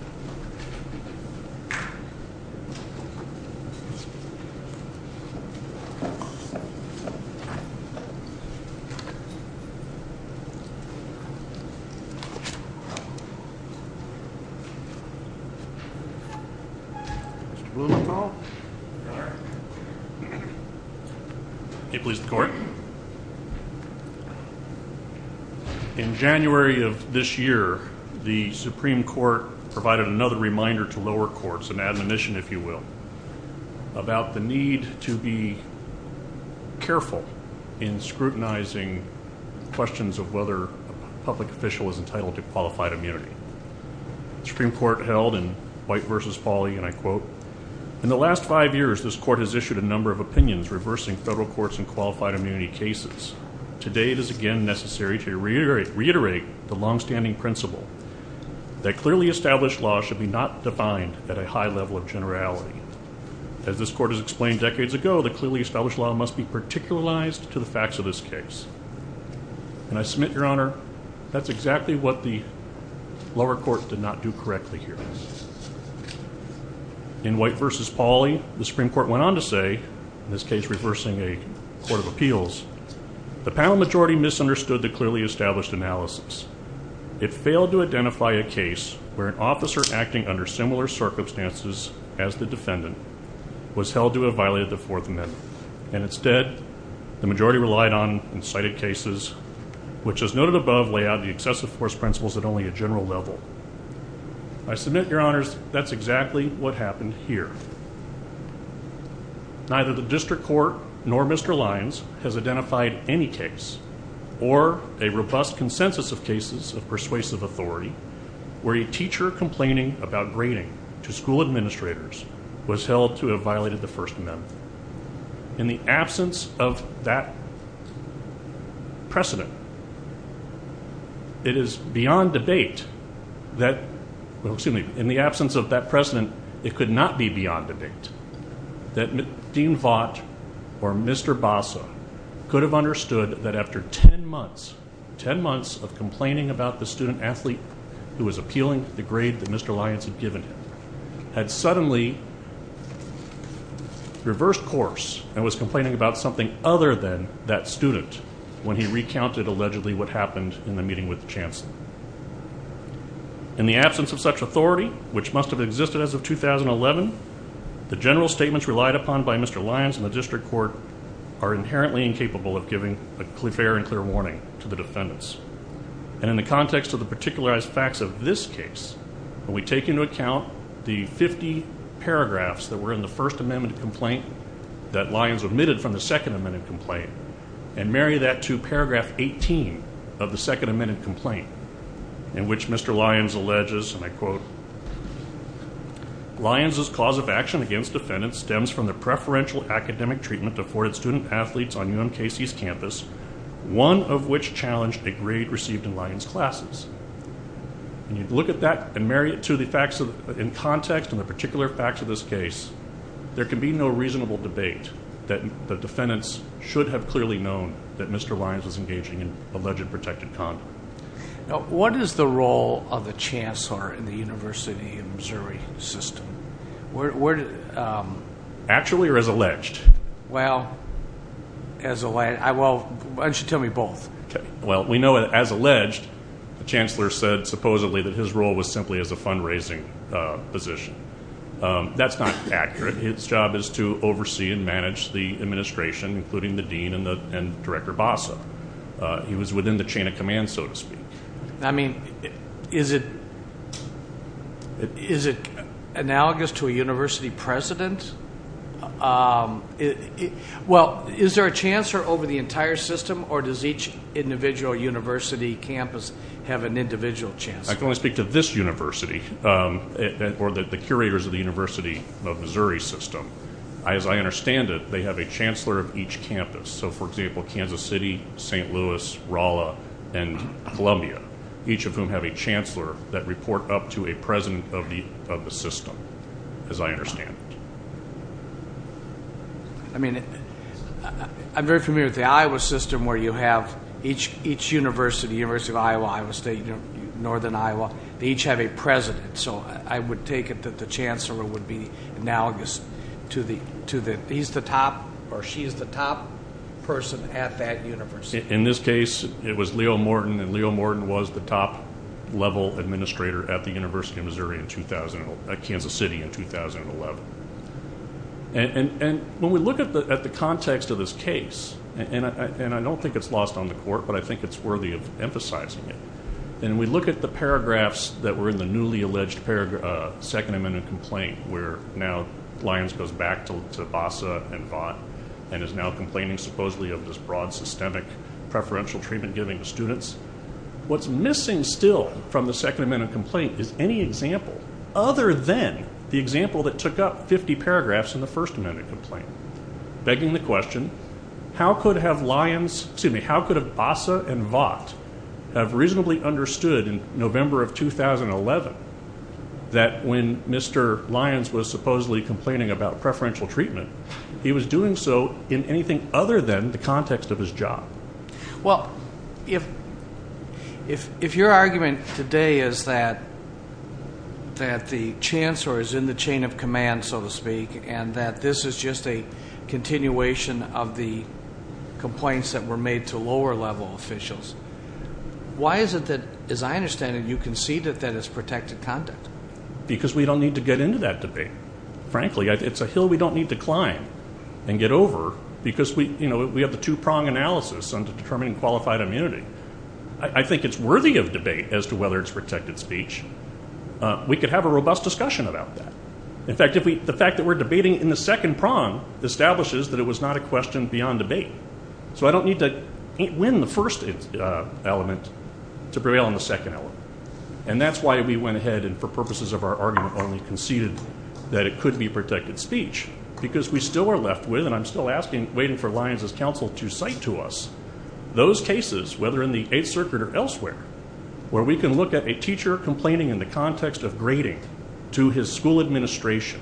Mr. Bloom, if I may call? May it please the Court? In January of this year, the Supreme Court provided another reminder to lower courts, an admonition if you will, about the need to be careful in scrutinizing questions of whether a public official is entitled to qualified immunity. The Supreme Court held in White v. Fawley, and I quote, In the last five years, this Court has issued a number of opinions reversing federal courts in qualified immunity cases. Today, it is again necessary to reiterate the longstanding principle that clearly established laws should not be defined at a high level of generality. As this Court has explained decades ago, the clearly established law must be particularized to the facts of this case. And I submit, Your Honor, that's exactly what the lower court did not do correctly here. In White v. Fawley, the Supreme Court went on to say, in this case reversing a court of appeals, The panel majority misunderstood the clearly established analysis. It failed to identify a case where an officer acting under similar circumstances as the defendant was held to have violated the Fourth Amendment. And instead, the majority relied on incited cases, which as noted above, lay out the excessive force principles at only a general level. I submit, Your Honors, that's exactly what happened here. Neither the district court nor Mr. Lyons has identified any case or a robust consensus of cases of persuasive authority where a teacher complaining about grading to school administrators was held to have violated the First Amendment. In the absence of that precedent, it is beyond debate that, well, excuse me, in the absence of that precedent, it could not be beyond debate that Dean Vaught or Mr. Basa could have understood that after 10 months, 10 months of complaining about the student-athlete who was appealing the grade that Mr. Lyons had given him, had suddenly reversed course and was complaining about something other than that student when he recounted allegedly what happened in the meeting with the chancellor. In the absence of such authority, which must have existed as of 2011, the general statements relied upon by Mr. Lyons and the district court are inherently incapable of giving a fair and clear warning to the defendants. And in the context of the particularized facts of this case, when we take into account the 50 paragraphs that were in the First Amendment complaint that Lyons omitted from the Second Amendment complaint and marry that to paragraph 18 of the Second Amendment complaint in which Mr. Lyons alleges, and I quote, Lyons' cause of action against defendants stems from the preferential academic treatment afforded student-athletes on UMKC's campus, one of which challenged a grade received in Lyons' classes. When you look at that and marry it to the facts in context and the particular facts of this case, there can be no reasonable debate that the defendants should have clearly known that Mr. Lyons was engaging in alleged protected conduct. Now, what is the role of the chancellor in the University of Missouri system? Actually or as alleged? Well, as alleged. Why don't you tell me both? Well, we know that as alleged, the chancellor said supposedly that his role was simply as a fundraising position. That's not accurate. His job is to oversee and manage the administration, including the dean and Director Bassa. He was within the chain of command, so to speak. I mean, is it analogous to a university president? Well, is there a chancellor over the entire system or does each individual university campus have an individual chancellor? I can only speak to this university or the curators of the University of Missouri system. As I understand it, they have a chancellor of each campus. So, for example, Kansas City, St. Louis, Rolla, and Columbia, each of whom have a chancellor that report up to a president of the system, as I understand it. I mean, I'm very familiar with the Iowa system where you have each university, University of Iowa, Iowa State, Northern Iowa, they each have a president. So I would take it that the chancellor would be analogous to the top, or she is the top person at that university. In this case, it was Leo Morton, and Leo Morton was the top-level administrator at the University of Missouri at Kansas City in 2011. And when we look at the context of this case, and I don't think it's lost on the court, but I think it's worthy of emphasizing it, and we look at the paragraphs that were in the newly alleged Second Amendment complaint, where now Lyons goes back to Vassa and Vaught and is now complaining supposedly of this broad, systemic, preferential treatment given to students. What's missing still from the Second Amendment complaint is any example other than the example that took up 50 paragraphs in the First Amendment complaint, begging the question, how could Vassa and Vaught have reasonably understood in November of 2011 that when Mr. Lyons was supposedly complaining about preferential treatment, he was doing so in anything other than the context of his job? Well, if your argument today is that the chancellor is in the chain of command, so to speak, and that this is just a continuation of the complaints that were made to lower-level officials, why is it that, as I understand it, you concede that that is protected conduct? Because we don't need to get into that debate. Frankly, it's a hill we don't need to climb and get over because we have the two-prong analysis on determining qualified immunity. I think it's worthy of debate as to whether it's protected speech. We could have a robust discussion about that. In fact, the fact that we're debating in the second prong establishes that it was not a question beyond debate. So I don't need to win the first element to prevail on the second element. And that's why we went ahead and, for purposes of our argument, only conceded that it could be protected speech because we still are left with, and I'm still waiting for Lyons' counsel to cite to us, those cases, whether in the Eighth Circuit or elsewhere, where we can look at a teacher complaining in the context of grading to his school administration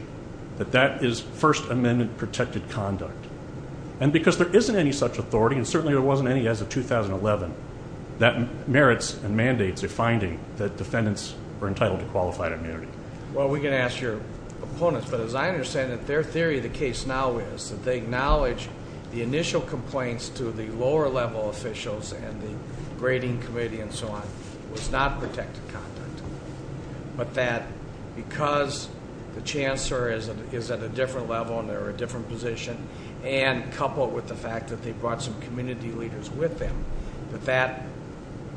that that is First Amendment-protected conduct. And because there isn't any such authority, and certainly there wasn't any as of 2011, that merits and mandates a finding that defendants are entitled to qualified immunity. Well, we can ask your opponents, but as I understand it, their theory of the case now is that they acknowledge the initial complaints to the lower-level officials and the grading committee and so on was not protected conduct, but that because the chancellor is at a different level and they're a different position, and coupled with the fact that they brought some community leaders with them, that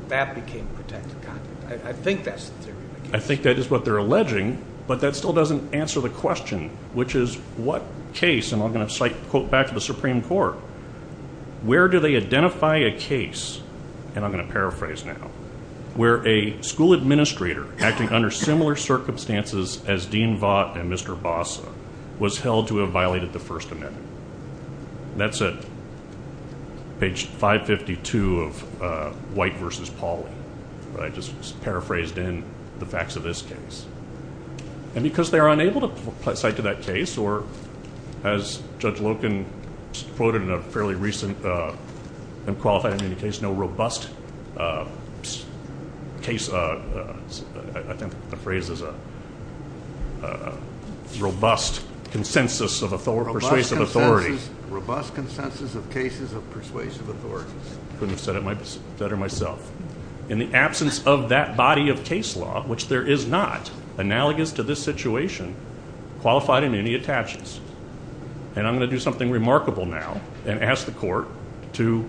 that became protected conduct. I think that's the theory of the case. I think that is what they're alleging, but that still doesn't answer the question, which is what case, and I'm going to quote back to the Supreme Court, where do they identify a case, and I'm going to paraphrase now, where a school administrator acting under similar circumstances as Dean Vaught and Mr. Vassa was held to have violated the First Amendment? That's at page 552 of White v. Pauley. I just paraphrased in the facts of this case. And because they are unable to cite to that case, or as Judge Loken quoted in a fairly recent unqualified immunity case, there is no robust consensus of persuasive authority. Robust consensus of cases of persuasive authority. Couldn't have said it better myself. In the absence of that body of case law, which there is not, analogous to this situation, qualified immunity attaches. And I'm going to do something remarkable now and ask the court to,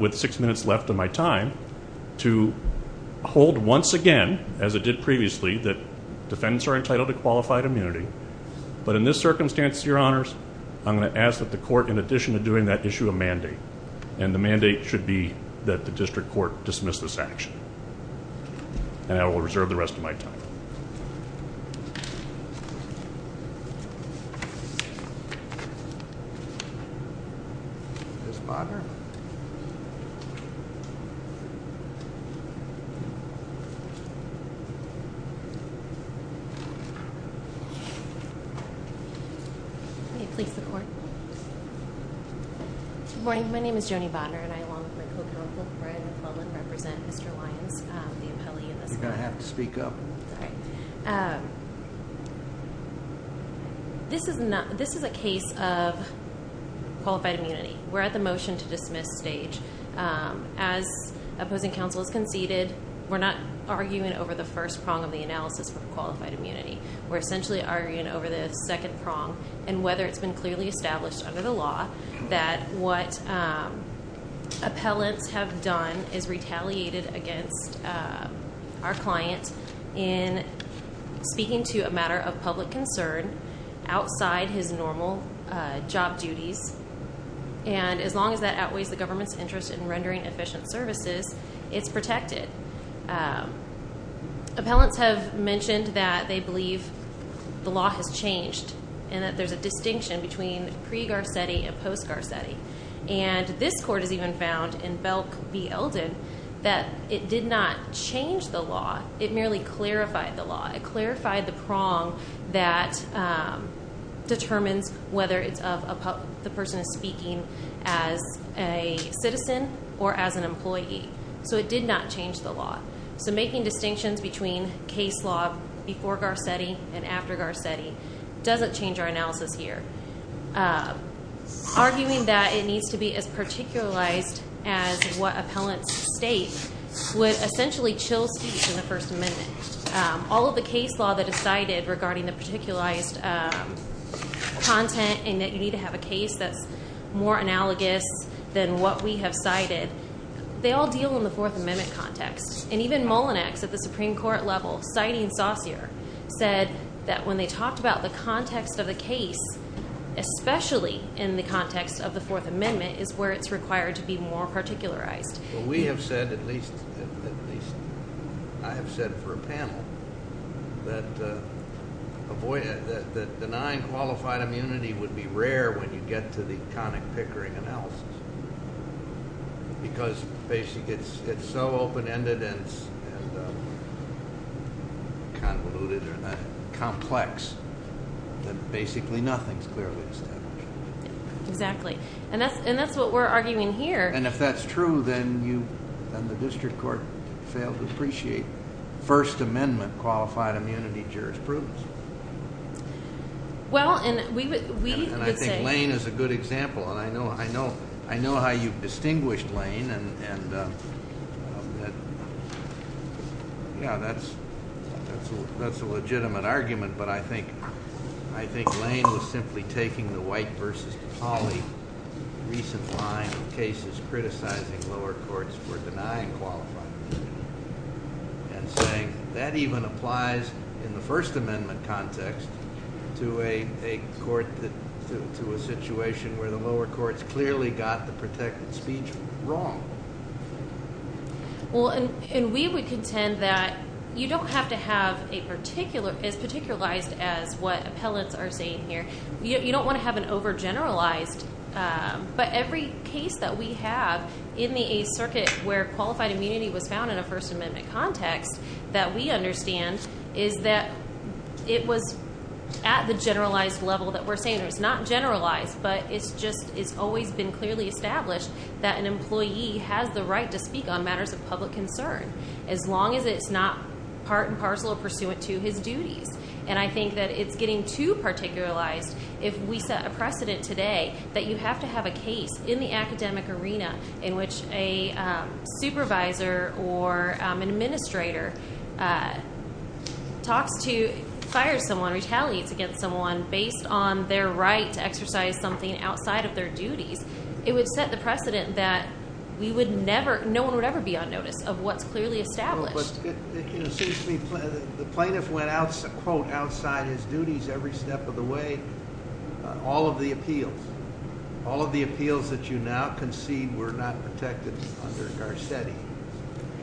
with six minutes left of my time, to hold once again, as it did previously, that defendants are entitled to qualified immunity. But in this circumstance, Your Honors, I'm going to ask that the court, in addition to doing that issue, a mandate. And the mandate should be that the district court dismiss this action. And I will reserve the rest of my time. Good morning. My name is Joni Botner and I, along with my co-counsel, Brian McClellan, represent Mr. Lyons, the appellee in this case. You're going to have to speak up. All right. This is a case of qualified immunity. We're at the motion to dismiss stage. As opposing counsel has conceded, we're not arguing over the first prong of the analysis for qualified immunity. We're essentially arguing over the second prong and whether it's been clearly established under the law that what appellants have done is retaliated against our client in speaking to a matter of public concern outside his normal job duties. And as long as that outweighs the government's interest in rendering efficient services, it's protected. Appellants have mentioned that they believe the law has changed and that there's a distinction between pre-Garcetti and post-Garcetti. And this court has even found in Belk v. Elden that it did not change the law. It merely clarified the law. It clarified the prong that determines whether the person is speaking as a citizen or as an employee. So it did not change the law. So making distinctions between case law before Garcetti and after Garcetti doesn't change our analysis here. Arguing that it needs to be as particularized as what appellants state would essentially chill speech in the First Amendment. All of the case law that is cited regarding the particularized content and that you need to have a case that's more analogous than what we have cited, they all deal in the Fourth Amendment context. And even Mullinex at the Supreme Court level, citing Saussure, said that when they talked about the context of the case, especially in the context of the Fourth Amendment, is where it's required to be more particularized. Well, we have said, at least I have said for a panel, that denying qualified immunity would be rare when you get to the conic pickering analysis because it's so open-ended and convoluted and complex that basically nothing is clearly established. Exactly. And that's what we're arguing here. And if that's true, then the district court failed to appreciate First Amendment qualified immunity jurisprudence. Well, and we would say... And I think Lane is a good example, and I know how you've distinguished Lane, and, yeah, that's a legitimate argument, but I think Lane was simply taking the white versus poly recent line of cases criticizing lower courts for denying qualified immunity and saying that even applies in the First Amendment context to a court, to a situation where the lower courts clearly got the protected speech wrong. Well, and we would contend that you don't have to have a particular, as particularized as what appellants are saying here. You don't want to have an overgeneralized, but every case that we have in the Eighth Circuit where qualified immunity was found in a First Amendment context that we understand is that it was at the generalized level that we're saying. It's not generalized, but it's just always been clearly established that an employee has the right to speak on matters of public concern as long as it's not part and parcel or pursuant to his duties. And I think that it's getting too particularized if we set a precedent today that you have to have a case in the academic arena in which a supervisor or an administrator talks to, fires someone, retaliates against someone based on their right to exercise something outside of their duties. It would set the precedent that we would never, no one would ever be on notice of what's clearly established. But it seems to me the plaintiff went out, quote, outside his duties every step of the way. All of the appeals. All of the appeals that you now concede were not protected under Garcetti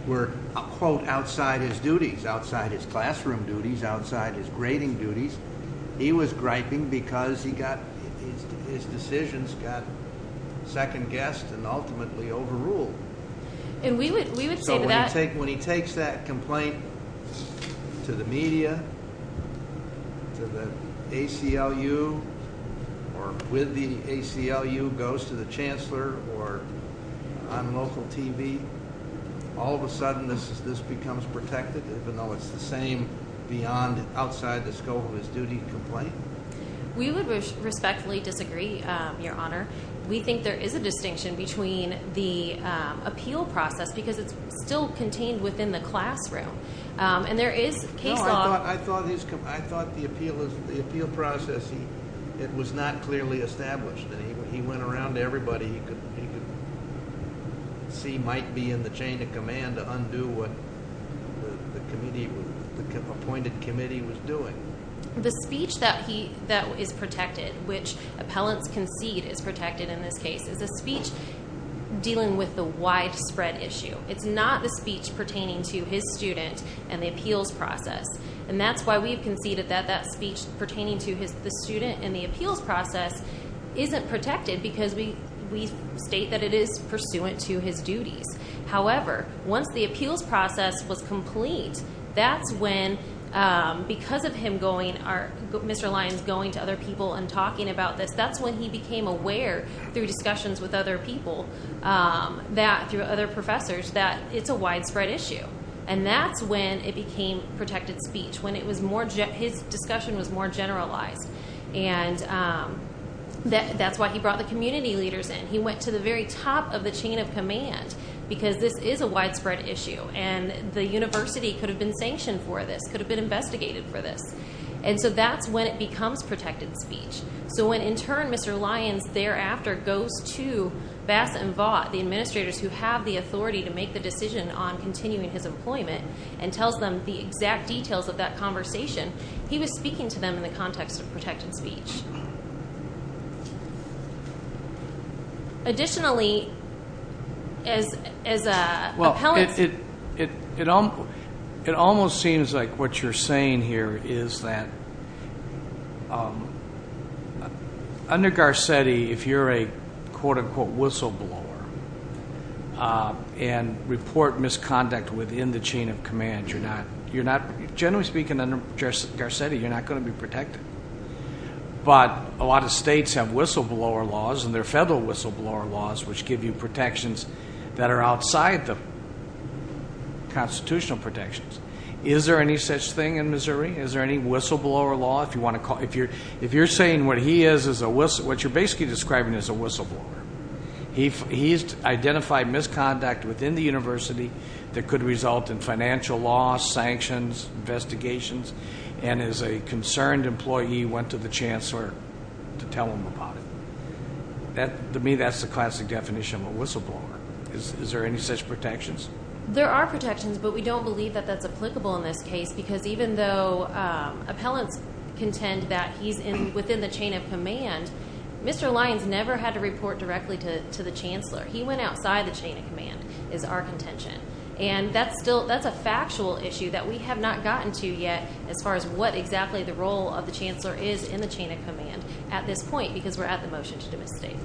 were, quote, outside his duties, outside his classroom duties, outside his grading duties. He was griping because his decisions got second-guessed and ultimately overruled. And we would say to that. So when he takes that complaint to the media, to the ACLU, or with the ACLU goes to the chancellor or on local TV, all of a sudden this becomes protected even though it's the same beyond outside the scope of his duty to complain? We would respectfully disagree, Your Honor. We think there is a distinction between the appeal process because it's still contained within the classroom. And there is case law. I thought the appeal process, it was not clearly established. He went around to everybody he could see might be in the chain of command to undo what the appointed committee was doing. The speech that is protected, which appellants concede is protected in this case, is a speech dealing with the widespread issue. It's not the speech pertaining to his student and the appeals process. And that's why we've conceded that that speech pertaining to the student and the appeals process isn't protected because we state that it is pursuant to his duties. However, once the appeals process was complete, that's when, because of Mr. Lyons going to other people and talking about this, that's when he became aware through discussions with other people, through other professors, that it's a widespread issue. And that's when it became protected speech, when his discussion was more generalized. And that's why he brought the community leaders in. He went to the very top of the chain of command because this is a widespread issue. And the university could have been sanctioned for this, could have been investigated for this. And so that's when it becomes protected speech. So when in turn Mr. Lyons thereafter goes to Bass and Vaught, the administrators who have the authority to make the decision on continuing his employment, and tells them the exact details of that conversation, he was speaking to them in the context of protected speech. Additionally, as appellants. It almost seems like what you're saying here is that under Garcetti, if you're a, quote, unquote, whistleblower, and report misconduct within the chain of command, you're not, generally speaking, under Garcetti, you're not going to be protected. But a lot of states have whistleblower laws, and there are federal whistleblower laws, which give you protections that are outside the constitutional protections. Is there any such thing in Missouri? Is there any whistleblower law? If you're saying what he is is a whistleblower, what you're basically describing is a whistleblower. He's identified misconduct within the university that could result in financial loss, sanctions, investigations, and as a concerned employee went to the chancellor to tell him about it. To me, that's the classic definition of a whistleblower. Is there any such protections? There are protections, but we don't believe that that's applicable in this case because even though appellants contend that he's within the chain of command, Mr. Lyons never had to report directly to the chancellor. He went outside the chain of command is our contention. And that's a factual issue that we have not gotten to yet as far as what exactly the role of the chancellor is in the chain of command at this point because we're at the motion to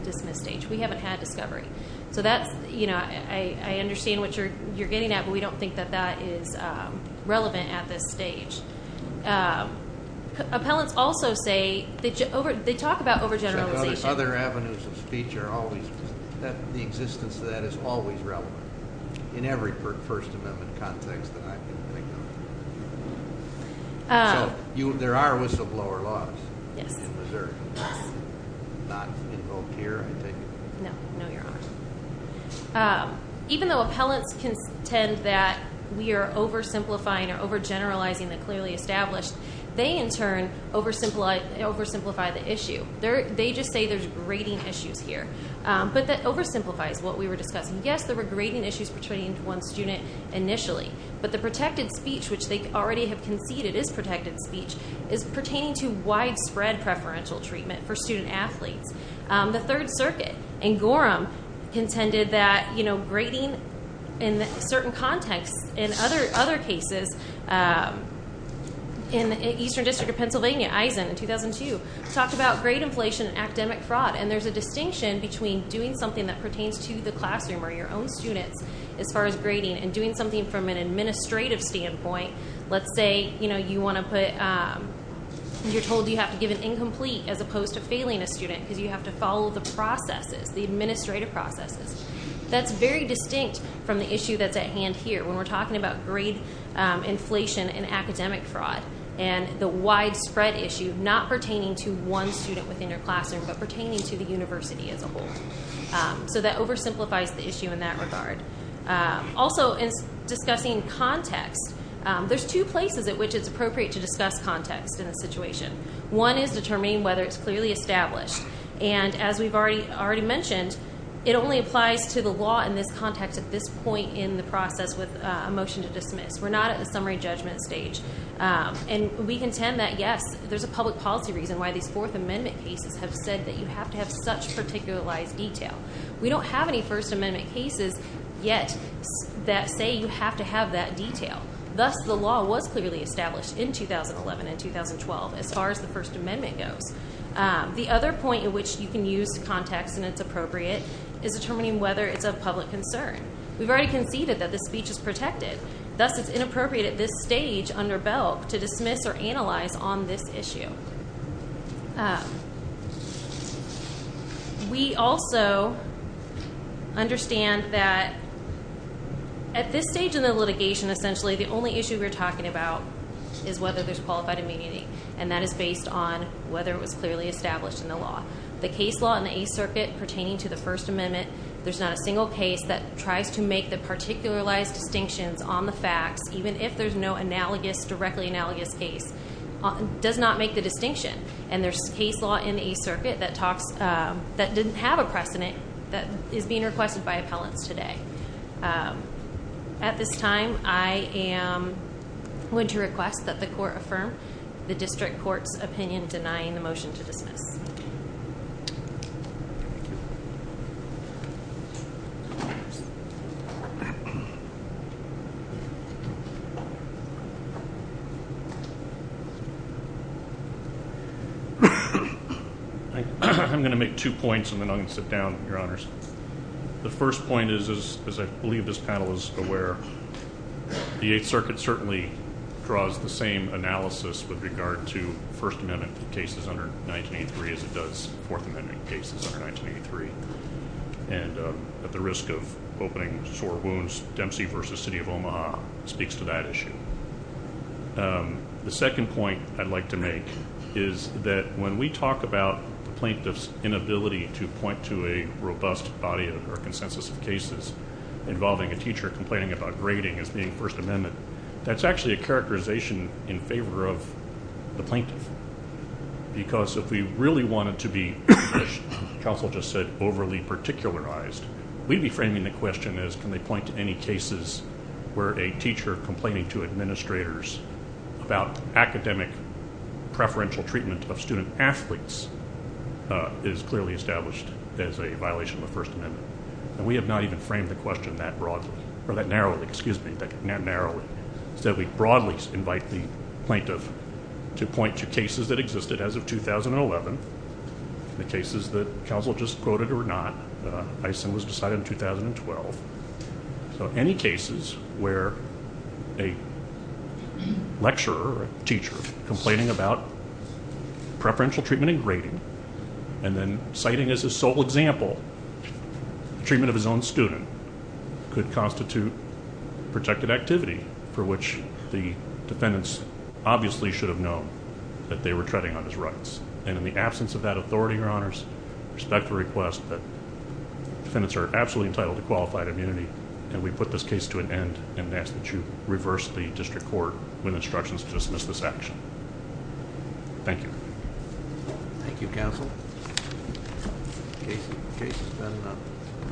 dismiss stage. We haven't had discovery. So that's, you know, I understand what you're getting at, but we don't think that that is relevant at this stage. Appellants also say they talk about overgeneralization. Other avenues of speech are always, the existence of that is always relevant in every First Amendment context So there are whistleblower laws in Missouri. Not invoked here, I think. No, no, Your Honor. Even though appellants contend that we are oversimplifying or overgeneralizing the clearly established, they in turn oversimplify the issue. They just say there's grading issues here. But that oversimplifies what we were discussing. Yes, there were grading issues pertaining to one student initially, but the protected speech, which they already have conceded is protected speech, is pertaining to widespread preferential treatment for student athletes. The Third Circuit in Gorham contended that, you know, grading in certain contexts, in other cases, in the Eastern District of Pennsylvania, Eisen in 2002, talked about grade inflation and academic fraud. And there's a distinction between doing something that pertains to the classroom or your own students as far as grading and doing something from an administrative standpoint. Let's say, you know, you want to put, you're told you have to give an incomplete as opposed to failing a student because you have to follow the processes, the administrative processes. That's very distinct from the issue that's at hand here when we're talking about grade inflation and academic fraud and the widespread issue not pertaining to one student within your classroom but pertaining to the university as a whole. So that oversimplifies the issue in that regard. Also, in discussing context, there's two places at which it's appropriate to discuss context in a situation. One is determining whether it's clearly established. And as we've already mentioned, it only applies to the law in this context at this point in the process with a motion to dismiss. We're not at the summary judgment stage. And we contend that, yes, there's a public policy reason why these Fourth Amendment cases have said that you have to have such particularized detail. We don't have any First Amendment cases yet that say you have to have that detail. Thus, the law was clearly established in 2011 and 2012 as far as the First Amendment goes. The other point at which you can use context and it's appropriate is determining whether it's of public concern. We've already conceded that this speech is protected. Thus, it's inappropriate at this stage under BELC to dismiss or analyze on this issue. We also understand that at this stage in the litigation, essentially, the only issue we're talking about is whether there's qualified immunity. And that is based on whether it was clearly established in the law. The case law in the Eighth Circuit pertaining to the First Amendment, there's not a single case that tries to make the particularized distinctions on the facts, even if there's no analogous, directly analogous case, does not make the distinction. And there's case law in the Eighth Circuit that talks, that didn't have a precedent that is being requested by appellants today. At this time, I am going to request that the court affirm the district court's opinion denying the motion to dismiss. I'm going to make two points, and then I'm going to sit down, Your Honors. The first point is, as I believe this panel is aware, the Eighth Circuit certainly draws the same analysis with regard to First Amendment cases under 1983 as it does Fourth Amendment cases under 1983. And at the risk of opening sore wounds, Dempsey v. City of Omaha speaks to that issue. The second point I'd like to make is that when we talk about the plaintiff's inability to point to a robust body or consensus of cases involving a teacher complaining about grading as being First Amendment, that's actually a characterization in favor of the plaintiff. Because if we really wanted to be, as counsel just said, overly particularized, we'd be framing the question as, can they point to any cases where a teacher complaining to administrators about academic preferential treatment of student athletes is clearly established as a violation of the First Amendment? And we have not even framed the question that narrowly. Instead, we broadly invite the plaintiff to point to cases that existed as of 2011, the cases that counsel just quoted or not. I assume it was decided in 2012. So any cases where a lecturer or a teacher complaining about preferential treatment in grading and then citing as a sole example the treatment of his own student could constitute protected activity for which the defendants obviously should have known that they were treading on his rights. And in the absence of that authority, Your Honors, I respect the request that defendants are absolutely entitled to qualified immunity and we put this case to an end and ask that you reverse the district court with instructions to dismiss this action. Thank you. Thank you, counsel. The case has been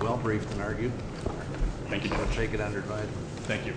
well briefed and argued. Thank you. I'll take it under advice. Thank you.